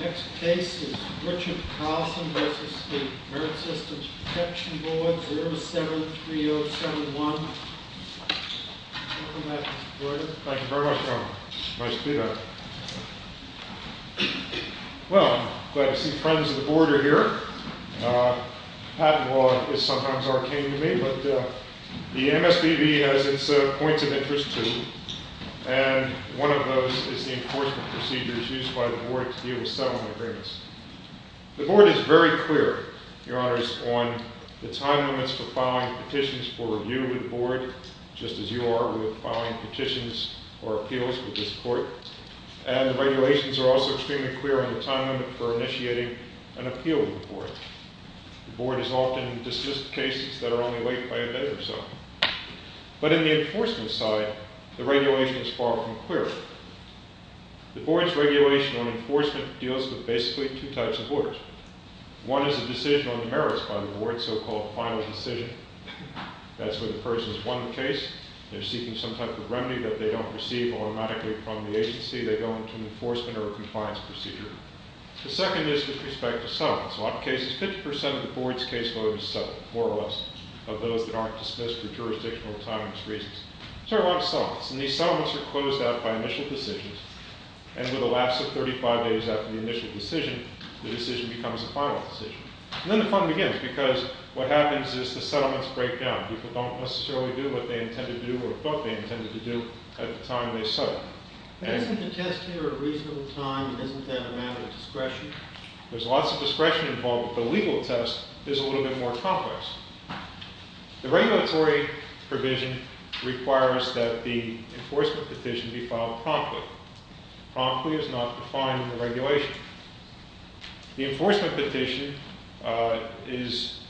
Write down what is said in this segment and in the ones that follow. Next case is Richard Carlson versus the American Systems Protection Board, 073071. Welcome back, Mr. Breuer. Thank you very much, John. Nice to be back. Well, glad to see friends of the board are here. Patent law is sometimes arcane to me, but the MSPB has its points of interest, too. And one of those is the enforcement procedures used by the board to deal with settlement agreements. The board is very clear, your honors, on the time limits for filing petitions for review with the board, just as you are with filing petitions or appeals with this court. And the regulations are also extremely clear on the time limit for initiating an appeal with the board. The board has often dismissed cases that are only late by a day or so. But in the enforcement side, the regulation is far from clear. The board's regulation on enforcement deals with basically two types of orders. One is a decision on the merits by the board, so-called final decision. That's where the person has won the case. They're seeking some type of remedy that they don't receive automatically from the agency. They go into an enforcement or a compliance procedure. The second is with respect to settlements. In a lot of cases, 50% of the board's caseload is settled, more or less, of those that aren't dismissed for jurisdictional or timeliness reasons. So a lot of settlements. And these settlements are closed out by initial decisions. And with a lapse of 35 days after the initial decision, the decision becomes a final decision. And then the fun begins, because what happens is the settlements break down. People don't necessarily do what they intend to do or thought they intended to do at the time they settled. Isn't the test here a reasonable time? And isn't that a matter of discretion? There's lots of discretion involved. The legal test is a little bit more complex. The regulatory provision requires that the enforcement petition be filed promptly. Promptly is not defined in the regulation. The enforcement petition is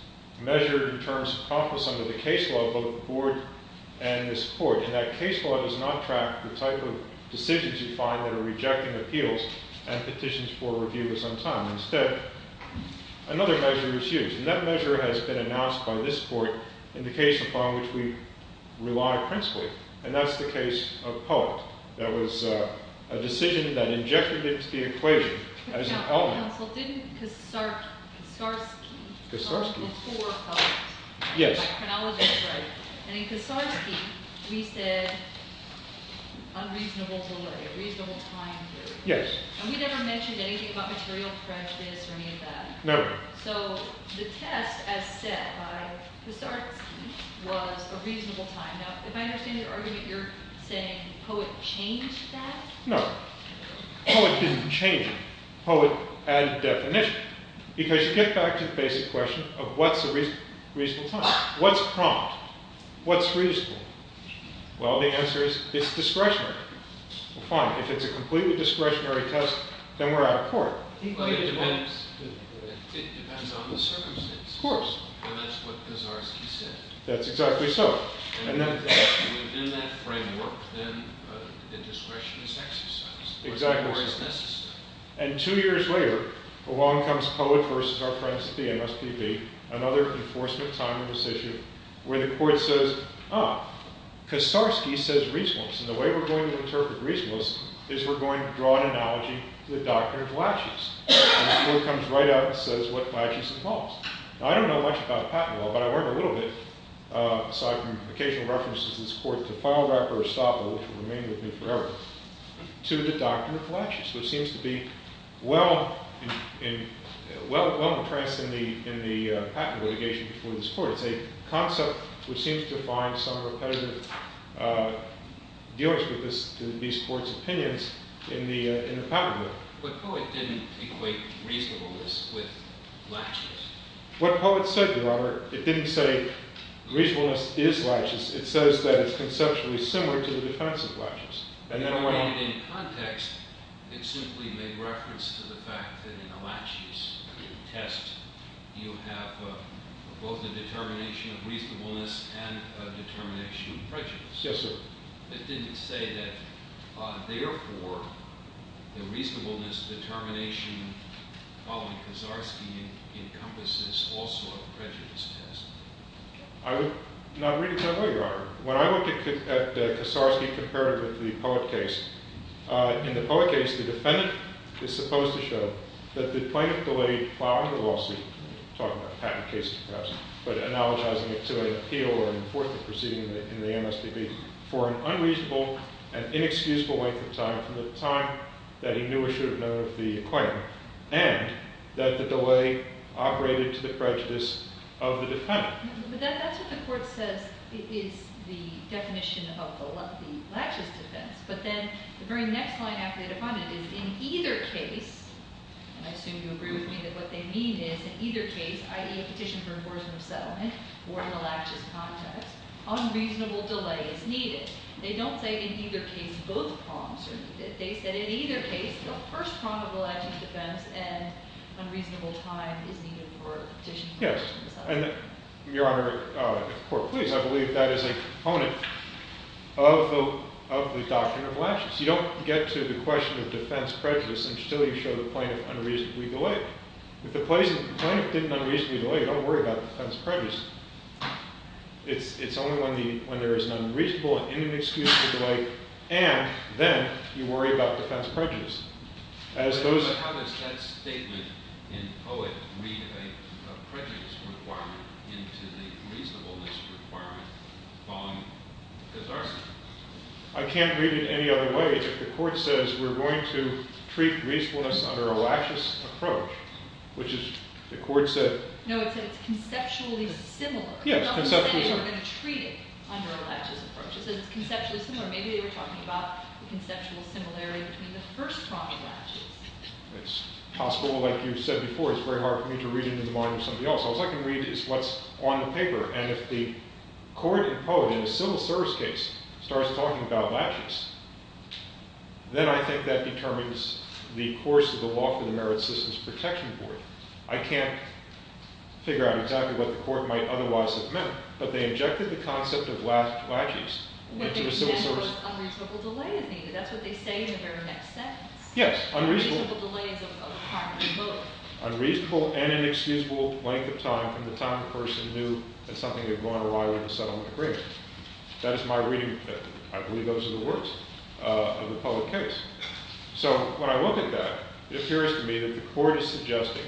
measured in terms of promptness under the case law, both the board and this court. And that case law does not track the type of decisions you find that are rejecting appeals and petitions for review with some time. Instead, another measure is used. And that measure has been announced by this court in the case upon which we rely principally. And that's the case of Poet. That was a decision that injected into the equation as an element. But now, counsel, didn't Kastorsky Kastorsky? Before Poet? Yes. By chronology, right. And in Kastorsky, we said unreasonable delay, reasonable time period. Yes. And we never mentioned anything about material prejudice or any of that. No. So the test, as set by Kastorsky, was a reasonable time. Now, if I understand your argument, you're saying Poet changed that? No. Poet didn't change it. Poet added definition. Because you get back to the basic question of what's a reasonable time? What's prompt? What's reasonable? Well, the answer is it's discretionary. Well, fine. If it's a completely discretionary test, then we're out of court. But it depends on the circumstance. Of course. And that's what Kastorsky said. That's exactly so. And within that framework, then the discretion is exercised. Exactly so. Or is necessary. And two years later, along comes Poet versus our friends at the MSPB, another enforcement time decision where the court says, ah, Kastorsky says reasonable. And the way we're going to interpret reasonableness is we're going to draw an analogy to the doctrine of laches. And the court comes right out and says what laches involves. Now, I don't know much about patent law, but I learned a little bit, aside from occasional references in this court to Feinberg or Estoppa, which will remain with me forever, to the doctrine of laches, which seems to be well-entranced in the patent litigation before this court. It's a concept which seems to find some repetitive dealings with these court's opinions in the patent law. But Poet didn't equate reasonableness with laches. What Poet said, Robert, it didn't say reasonableness is laches. It says that it's conceptually similar to the defense of laches. And then when I read it in context, it simply made reference to the fact that in a laches test, you have both the determination of reasonableness and a determination of prejudice. Yes, sir. It didn't say that, therefore, the reasonableness determination following Kaczarski encompasses also a prejudice test. I would not read it that way, Your Honor. When I look at Kaczarski compared with the Poet case, in the Poet case, the defendant is supposed to show that the plaintiff delayed following the lawsuit, talking about patent cases perhaps, but analogizing it to an appeal or a fourth proceeding in the MSPB for an unreasonable and inexcusable length of time from the time that he knew or should have known of the claim, and that the delay operated to the prejudice of the defendant. But that's what the court says is the definition of the laches defense. But then the very next line after the defendant is, in either case, and I assume you agree with me that what they mean is, in either case, i.e. a petition for enforcement of settlement or in a laches context, unreasonable delay is needed. They don't say, in either case, both prongs. They said, in either case, the first prong of the laches defense and unreasonable time is needed for a petition for enforcement of settlement. Your Honor, if the court please, I You don't get to the question of defense prejudice, and still you show the plaintiff unreasonably delayed. If the plaintiff didn't unreasonably delay, you don't worry about defense prejudice. It's only when there is an unreasonable and inexcusable delay, and then you worry about defense prejudice. As those But how does that statement in Poet read a prejudice requirement into the reasonableness requirement following the disarsum? I can't read it any other way. If the court says, we're going to treat reasonableness under a laches approach, which is, the court said No, it said it's conceptually similar. Yes, conceptually similar. It's not the same as you're going to treat it under a laches approach. It says it's conceptually similar. Maybe they were talking about the conceptual similarity between the first prong of laches. It's possible, like you said before, it's very hard for me to read it in the mind of somebody else. All I can read is what's on the paper. And if the court in Poet, in a civil service case, starts talking about laches, then I think that determines the course of the law for the Merit Systems Protection Board. I can't figure out exactly what the court might otherwise have meant. But they injected the concept of laches into a civil service. What they meant was unreasonable delay is needed. That's what they say in the very next sentence. Yes, unreasonable. Unreasonable delay is a requirement in Poet. Unreasonable and inexcusable length of time in the time a person knew that something had gone awry with a settlement agreement. That is my reading. I believe those are the words of the Poet case. So when I look at that, it appears to me that the court is suggesting,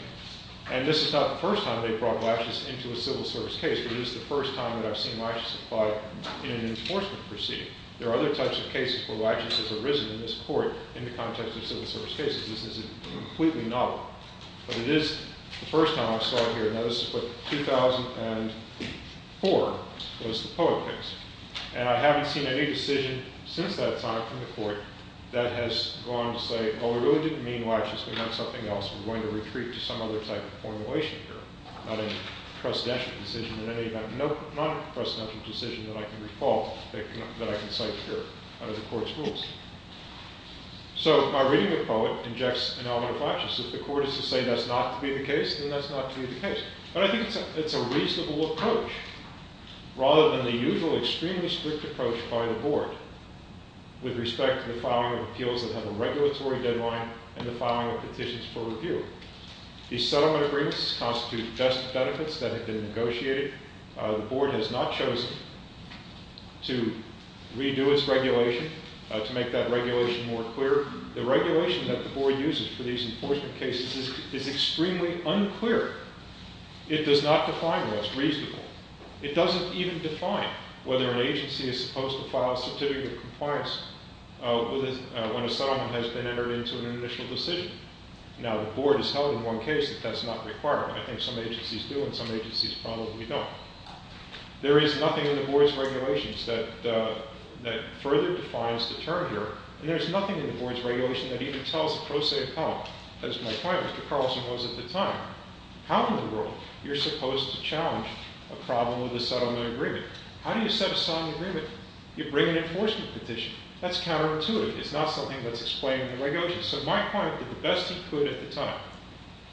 and this is not the first time they brought laches into a civil service case, but it is the first time that I've seen laches applied in an enforcement proceeding. There are other types of cases where laches have arisen in this court in the context of civil service cases. This is a completely novel. But it is the first time I saw it here. Now, this is what 2004 was the Poet case. And I haven't seen any decision since that time from the court that has gone to say, oh, we really didn't mean laches, we meant something else. We're going to retreat to some other type of formulation here, not a precedential decision in any event. Nope, not a precedential decision that I can recall that I can cite here under the court's rules. So my reading of Poet injects an element of laches. If the court is to say that's not to be the case, then that's not to be the case. But I think it's a reasonable approach, rather than the usual extremely strict approach by the board with respect to the filing of appeals that have a regulatory deadline and the filing of petitions for review. These settlement agreements constitute best benefits that have been negotiated. The board has not chosen to redo its regulation to make that regulation more clear. The regulation that the board uses for these enforcement cases is extremely unclear. It does not define what's reasonable. It doesn't even define whether an agency is supposed to file a certificate of compliance when a settlement has been entered into an initial decision. Now, the board has held in one case that that's not required. I think some agencies do, and some agencies probably don't. There is nothing in the board's regulations that further defines the term here. And there's nothing in the board's regulation that even tells the pro se of how. As my client, Mr. Carlson, was at the time. How in the world are you supposed to challenge a problem with a settlement agreement? How do you set a settlement agreement? You bring an enforcement petition. That's counterintuitive. It's not something that's explained in the regulation. So my client did the best he could at the time.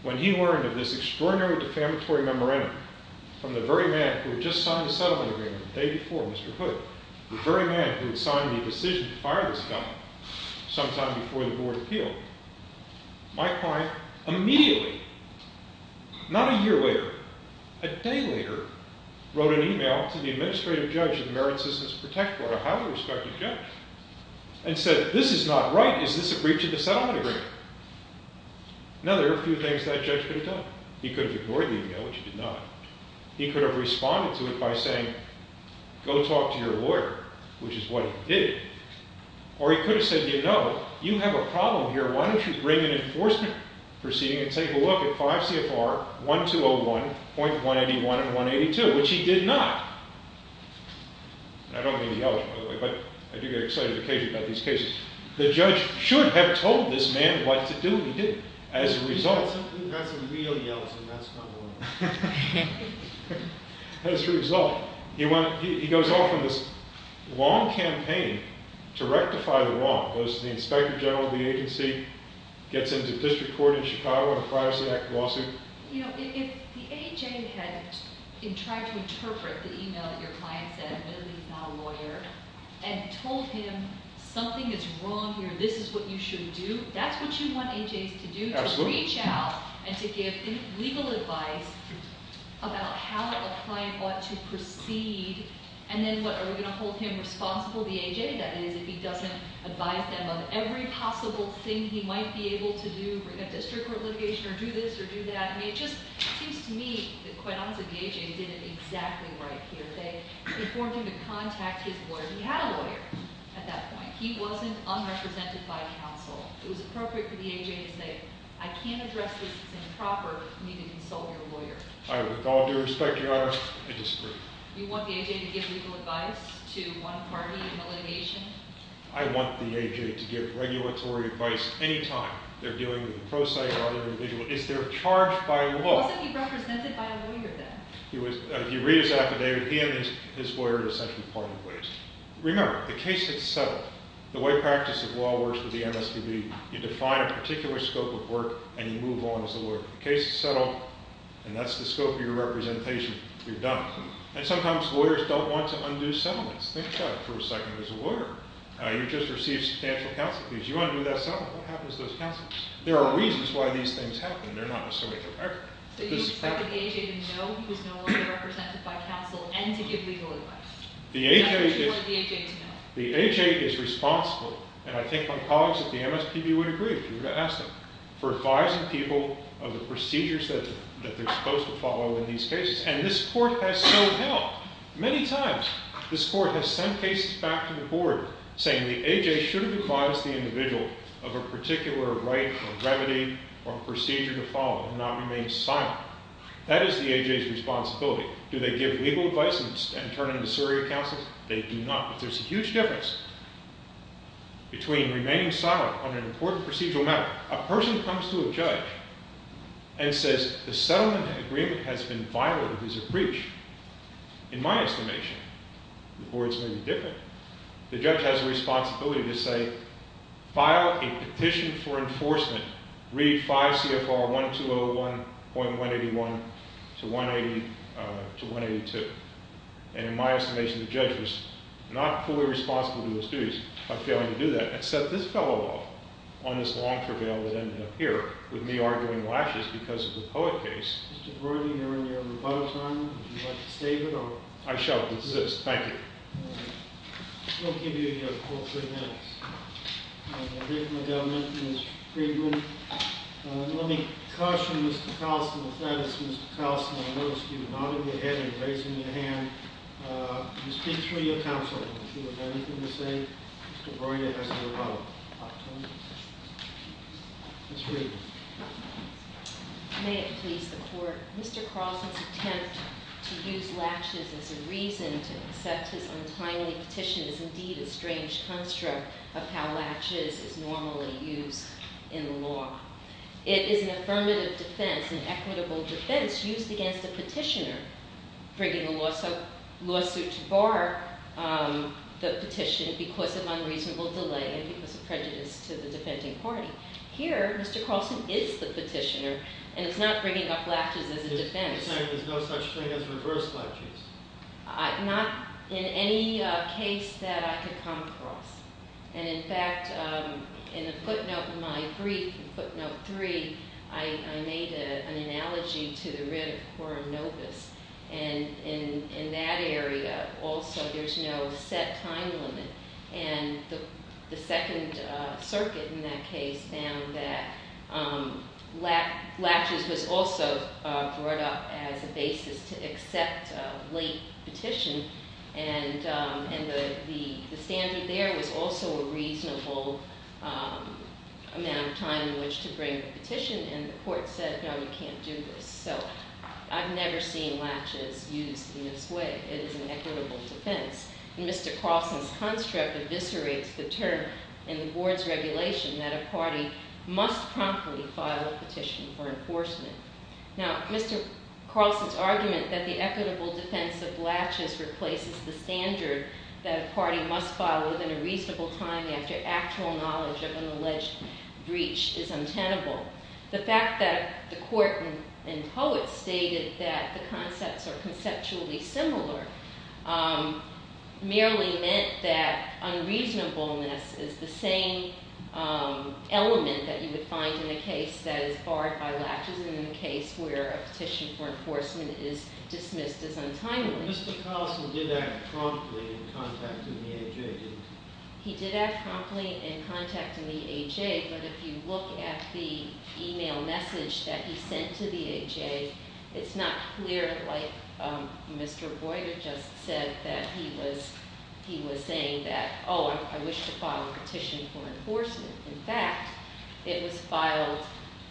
When he learned of this extraordinary defamatory memorandum from the very man who had just signed the settlement agreement the day before, Mr. Hood, the very man who had signed the decision to fire this guy sometime before the board appealed, my client immediately, not a year later, a day later, wrote an email to the administrative judge of the Merit Systems and Protect Board, a highly respected judge, and said, this is not right. Is this a breach of the settlement agreement? Now, there are a few things that judge could have done. He could have ignored the email, which he did not. He could have responded to it by saying, go talk to your lawyer, which is what he did. Or he could have said, you know, you have a problem here. Why don't you bring an enforcement proceeding and take a look at 5 CFR 1201.181 and 182, which he did not. And I don't mean to yell at you, by the way, but I do get excited occasionally about these cases. The judge should have told this man what to do. He didn't. As a result, he went, he goes off on this long campaign to rectify the law. Goes to the inspector general of the agency, gets into district court in Chicago on a privacy act lawsuit. You know, if the AJ had tried to interpret the email that your client sent, really, he's not a lawyer, and told him, something is wrong here. This is what you should do. That's what you want AJs to do, to reach out and to give legal advice about how a client ought to proceed, and then what, are we going to hold him responsible, the AJ, that is, if he doesn't advise them of every possible thing he might be able to do in a district court litigation, or do this, or do that. I mean, it just seems to me that, quite honestly, the AJ did it exactly right here. They informed him to contact his lawyer. He had a lawyer at that point. He wasn't unrepresented by counsel. It was appropriate for the AJ to say, I can't address this as improper. You need to consult your lawyer. I with all due respect, Your Honor, I disagree. You want the AJ to give legal advice to one party in the litigation? I want the AJ to give regulatory advice any time they're dealing with a pro se or other individual. Is there a charge by law? Wasn't he represented by a lawyer, then? If you read his affidavit, he and his lawyer are essentially part of the case. Remember, the case had settled. The way practice of law works with the MSPB, you define a particular scope of work, and you move on as a lawyer. The case is settled, and that's the scope of your representation. You're done. And sometimes lawyers don't want to undo settlements. Think about it for a second as a lawyer. You just received substantial counsel. If you undo that settlement, what happens to those counsels? There are reasons why these things happen. They're not necessarily forever. So you expect the AJ to know he was no longer represented by counsel and to give legal advice? The AJ is responsible, and I think my colleagues at the MSPB would agree if you were to ask them, for advising people of the procedures that they're supposed to follow in these cases. And this court has so helped many times. This court has sent cases back to the board saying the AJ should have advised the individual of a particular right or remedy or procedure to follow and not remain silent. That is the AJ's responsibility. Do they give legal advice and turn into surrogate counsel? They do not. But there's a huge difference between remaining silent on an important procedural matter. A person comes to a judge and says the settlement agreement has been violated as a breach. In my estimation, the board's maybe different. The judge has a responsibility to say, file a petition for enforcement. Read 5 CFR 1201.181 to 180 to 182. And in my estimation, the judge was not fully responsible to those duties by failing to do that, except this fellow law on this long prevail that ended up here with me arguing lashes because of the Poet case. Mr. Brody, you're on your rebuttal time. Would you like to state it or? I shall resist, thank you. We'll give you your court three minutes. I'm here for my government, Ms. Friedman. Let me caution Mr. Carlson, if that is Mr. Carlson, I noticed you nodding your head and raising your hand. You speak through your counsel. If you have anything to say, Mr. Brody has your rebuttal. Ms. Friedman. May it please the court. Mr. Carlson's attempt to use latches as a reason to accept his untimely petition is indeed a strange construct of how latches is normally used in law. It is an affirmative defense, an equitable defense used against a petitioner, bringing a lawsuit to bar the petition because of unreasonable delay and because of prejudice to the defending party. Here, Mr. Carlson is the petitioner and it's not bringing up latches as a defense. You're saying there's no such thing as reverse latches? Not in any case that I could come across. And in fact, in the footnote in my brief, footnote three, I made an analogy to the writ of Quorinobis. And in that area, also, there's no set time limit and the Second Circuit, in that case, found that latches was also brought up as a basis to accept a late petition and the standard there was also a reasonable amount of time in which to bring the petition and the court said, no, you can't do this. So I've never seen latches used in this way. It is an equitable defense. And Mr. Carlson's construct eviscerates the term in the board's regulation that a party must promptly file a petition for enforcement. Now, Mr. Carlson's argument that the equitable defense of latches replaces the standard that a party must file within a reasonable time after actual knowledge of an alleged breach is untenable. The fact that the court and poets stated that the concepts are conceptually similar merely meant that unreasonableness is the same element that you would find in a case that is barred by latches and in a case where a petition for enforcement is dismissed as untimely. Mr. Carlson did that promptly in contact with the A.J., didn't he? He did that promptly in contact with the A.J., but if you look at the email message that he sent to the A.J., it's not clear, like Mr. Boyd had just said that he was saying that, oh, I wish to file a petition for enforcement. In fact, it was filed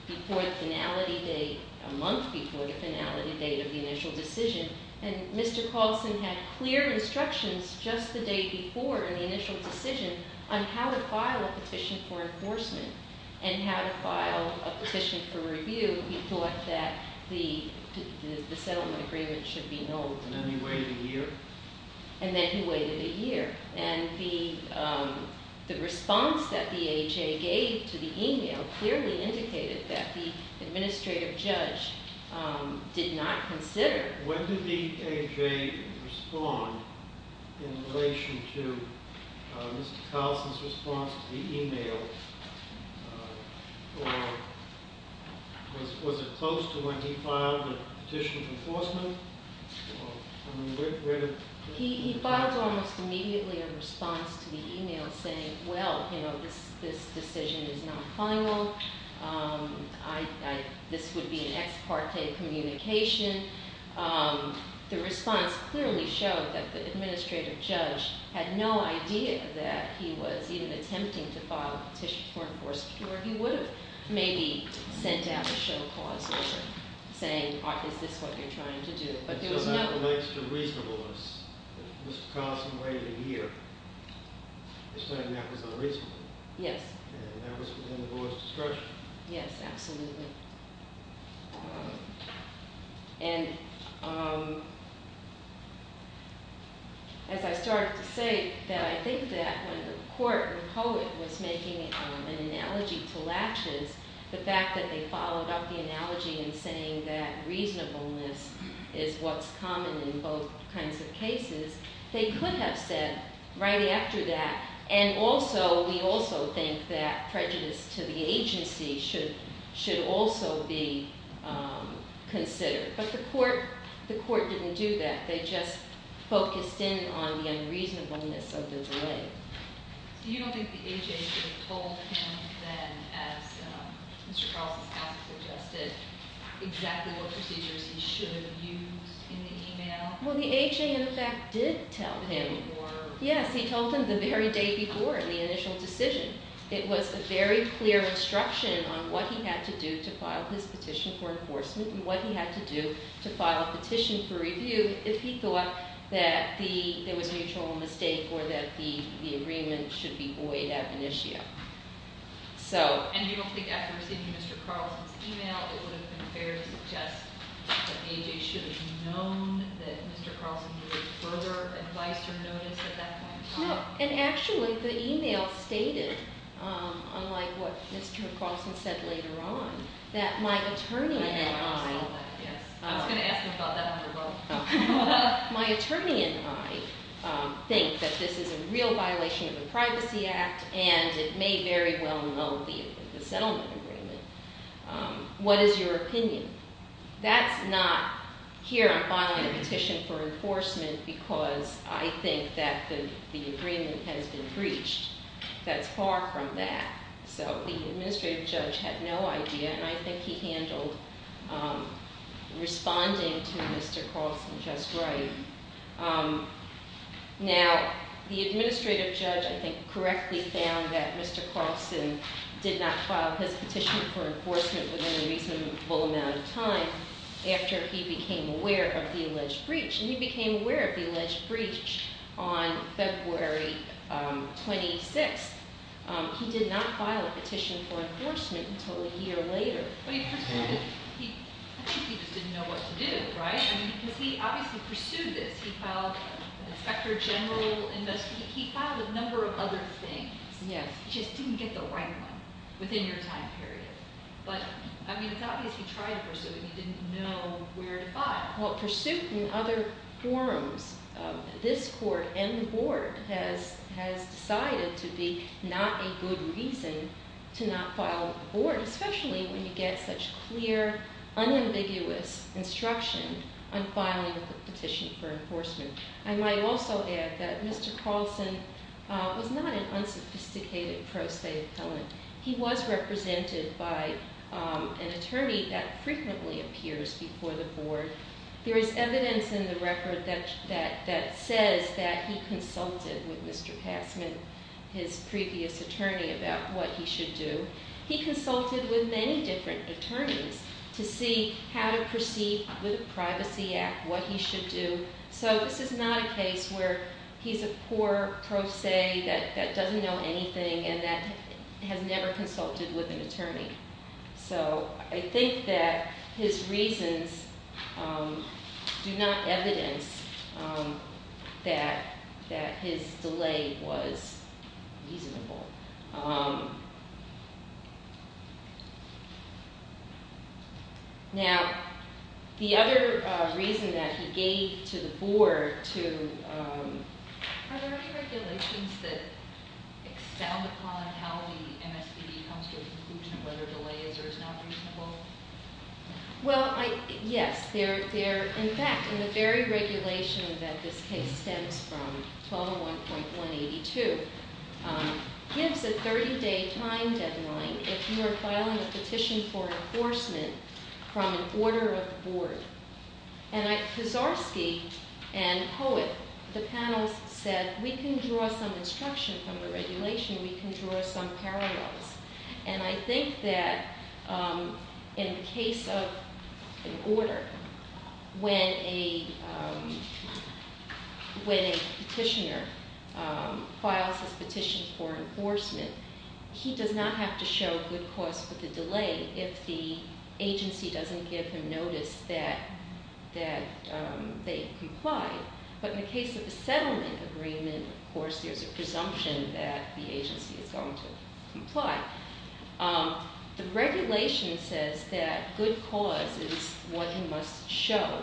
before the finality date, a month before the finality date of the initial decision, and Mr. Carlson had clear instructions just the day before in the initial decision on how to file a petition for enforcement and how to file a petition for review. He thought that the settlement agreement should be known. And then he waited a year? And then he waited a year, and the response that the A.J. gave to the email clearly indicated that the administrative judge did not consider. When did the A.J. respond in relation to Mr. Carlson's response to the email or was it close to when he filed the petition for enforcement? He filed almost immediately a response to the email saying, well, this decision is not final. This would be an ex parte communication. The response clearly showed that the administrative judge had no idea that he was even attempting to file a petition for enforcement or he would have maybe sent out a show cause or saying, is this what you're trying to do? But there was no- So that relates to reasonableness. Mr. Carlson waited a year. He's saying that was unreasonable. Yes. And that was within the board's discretion. Yes, absolutely. And as I started to say that I think that when the court or poet was making an analogy to latches, the fact that they followed up the analogy in saying that reasonableness is what's common in both kinds of cases, they could have said right after that, and also, we also think that prejudice to the agency should also be considered. But the court didn't do that. They just focused in on the unreasonableness of the delay. You don't think the AHA told him then as Mr. Carlson's counsel suggested exactly what procedures he should have used in the email? Well, the AHA, in fact, did tell him. Yes, he told him the very day before in the initial decision. It was a very clear instruction on what he had to do to file his petition for enforcement and what he had to do to file a petition for review if he thought that there was a mutual mistake or that the agreement should be void ad initio. And you don't think after receiving Mr. Carlson's email, it would have been fair to suggest that AJ should have known that Mr. Carlson needed further advice or notice at that point in time? No, and actually, the email stated, unlike what Mr. Carlson said later on, that my attorney and I- I saw that, yes. I was gonna ask him about that one as well. My attorney and I think that this is a real violation of the Privacy Act, and it may very well null the settlement agreement. What is your opinion? That's not, here, I'm filing a petition for enforcement because I think that the agreement has been breached. That's far from that. So the administrative judge had no idea, and I think he handled responding to Mr. Carlson just right. Now, the administrative judge, I think, correctly found that Mr. Carlson did not file his petition for enforcement within a reasonable amount of time after he became aware of the alleged breach. And he became aware of the alleged breach on February 26th. He did not file a petition for enforcement until a year later. But he pursued it. I think he just didn't know what to do, right? I mean, because he obviously pursued this. He filed an Inspector General investigation. He filed a number of other things. Yes. He just didn't get the right one within your time period. He didn't know where to file. Well, pursuit in other forums, this court and the board has decided to be not a good reason to not file with the board, especially when you get such clear, unambiguous instruction on filing a petition for enforcement. I might also add that Mr. Carlson was not an unsophisticated pro se appellant. He was represented by an attorney that frequently appears before the board. There is evidence in the record that says that he consulted with Mr. Passman, his previous attorney, about what he should do. He consulted with many different attorneys to see how to proceed with the Privacy Act, what he should do. So this is not a case where he's a poor pro se that doesn't know anything and that has never consulted with an attorney. So I think that his reasons do not evidence that his delay was reasonable. Now, the other reason that he gave to the board to... Are there any regulations that excel upon how the MSPD comes to a conclusion, whether delay is or is not reasonable? Well, yes. In fact, in the very regulation that this case stems from, 1201.182, gives a 30-day time deadline if you are filing a petition for enforcement from an order of the board. And Kaczarski and Poet, the panel said, we can draw some instruction from the regulation, we can draw some parallels. And I think that in the case of an order, when a petitioner files his petition for enforcement, he does not have to show good cause for the delay if the agency doesn't give him notice that they comply. But in the case of a settlement agreement, of course, there's a presumption that the agency is going to comply. The regulation says that good cause is what he must show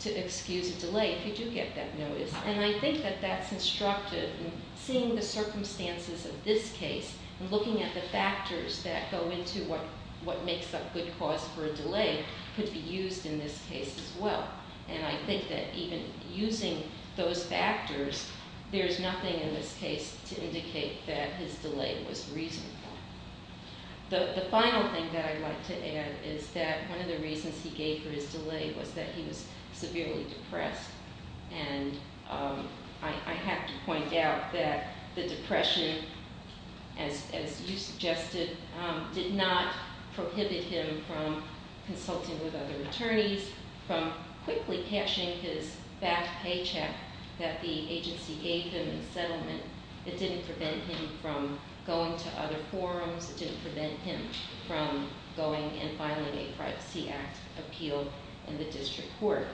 to excuse a delay if you do get that notice. And I think that that's instructed in seeing the circumstances of this case and looking at the factors that go into what makes up good cause for a delay could be used in this case as well. And I think that even using those factors, there's nothing in this case to indicate that his delay was reasonable. The final thing that I'd like to add is that one of the reasons he gave for his delay was that he was severely depressed. And I have to point out that the depression, as you suggested, did not prohibit him from consulting with other attorneys, from quickly cashing his back paycheck that the agency gave him in the settlement. It didn't prevent him from going to other forums. It didn't prevent him from going and filing a Privacy Act appeal in the district court.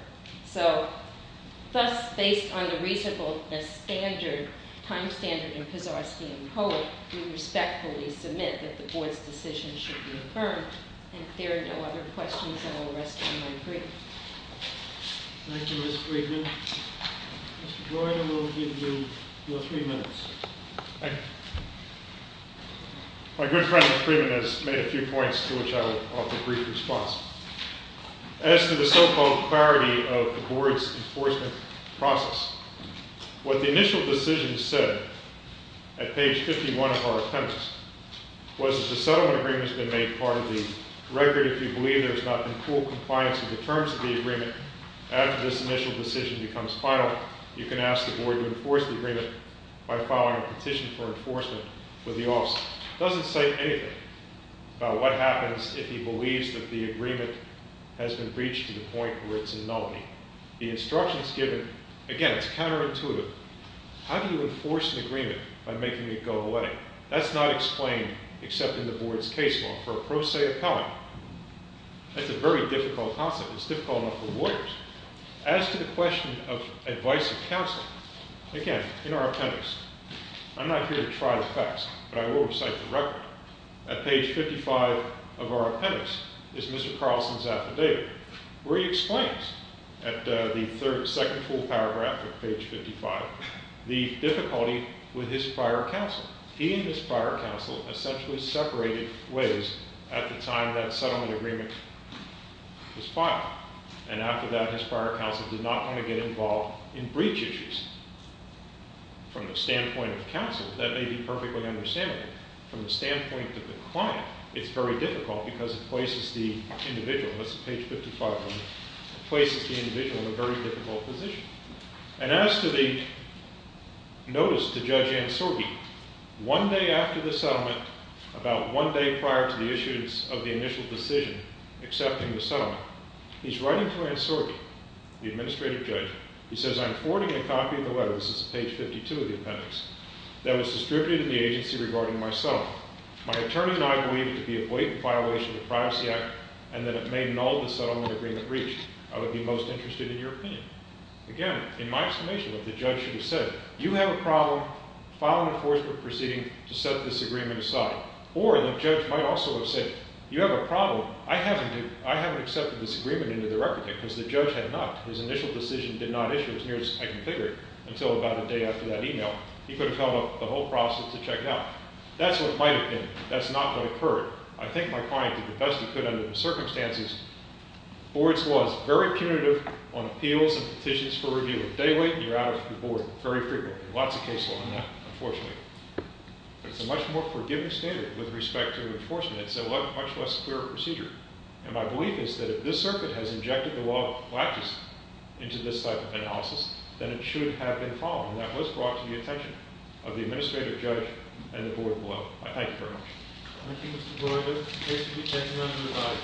So, thus, based on the reasonableness standard, time standard in Pisarski and Kohler, we respectfully submit that the board's decision should be affirmed. And if there are no other questions, then I'll arrest you in my brief. Thank you. Thank you, Mr. Freeman. Mr. Joyner will give you your three minutes. Thank you. My good friend, Mr. Freeman, has made a few points to which I'll offer brief response. As to the so-called clarity of the board's enforcement process, what the initial decision said at page 51 of our appendix was that the settlement agreement has been made part of the record if you believe there's not been full compliance with the terms of the agreement. After this initial decision becomes final, you can ask the board to enforce the agreement by filing a petition for enforcement with the officer. It doesn't say anything about what happens if he believes that the agreement has been breached to the point where it's a nullity. The instructions given, again, it's counterintuitive. How do you enforce an agreement by making it go away? That's not explained except in the board's case law for a pro se appellant. That's a very difficult concept. It's difficult enough for lawyers. As to the question of advice and counseling, again, in our appendix, I'm not here to try the facts, but I will recite the record. At page 55 of our appendix is Mr. Carlson's affidavit where he explains at the second full paragraph of page 55 the difficulty with his prior counsel. He and his prior counsel essentially separated ways at the time that settlement agreement was filed. And after that, his prior counsel did not wanna get involved in breach issues. From the standpoint of counsel, that may be perfectly understandable. From the standpoint of the client, it's very difficult because it places the individual, that's page 55 of it, places the individual in a very difficult position. And as to the notice to Judge Ansorbi, one day after the settlement, about one day prior to the issuance of the initial decision accepting the settlement, he's writing to Ansorbi, the administrative judge. He says, I'm forwarding a copy of the letter, this is page 52 of the appendix, that was distributed to the agency regarding my settlement. My attorney and I believe it to be a blatant violation of the Privacy Act and that it may null the settlement agreement breach. I would be most interested in your opinion. Again, in my explanation, what the judge should have said, you have a problem filing an enforcement proceeding to set this agreement aside. Or the judge might also have said, you have a problem, I haven't accepted this agreement into the record yet because the judge had not, his initial decision did not issue, as near as I can figure it, until about a day after that email. He could have held up the whole process to check it out. That's what it might have been, that's not what occurred. I think my client did the best he could under the circumstances. Board's laws, very punitive on appeals and petitions for review, they wait and you're out of the board very frequently. Lots of cases like that, unfortunately. But it's a much more forgiving standard with respect to enforcement. It's a much less clear procedure. And my belief is that if this circuit has injected the law of practice into this type of analysis, then it should have been followed. And that was brought to the attention of the administrative judge and the board below. I thank you very much. Thank you, Mr. Brewer. There's a case to be taken under review.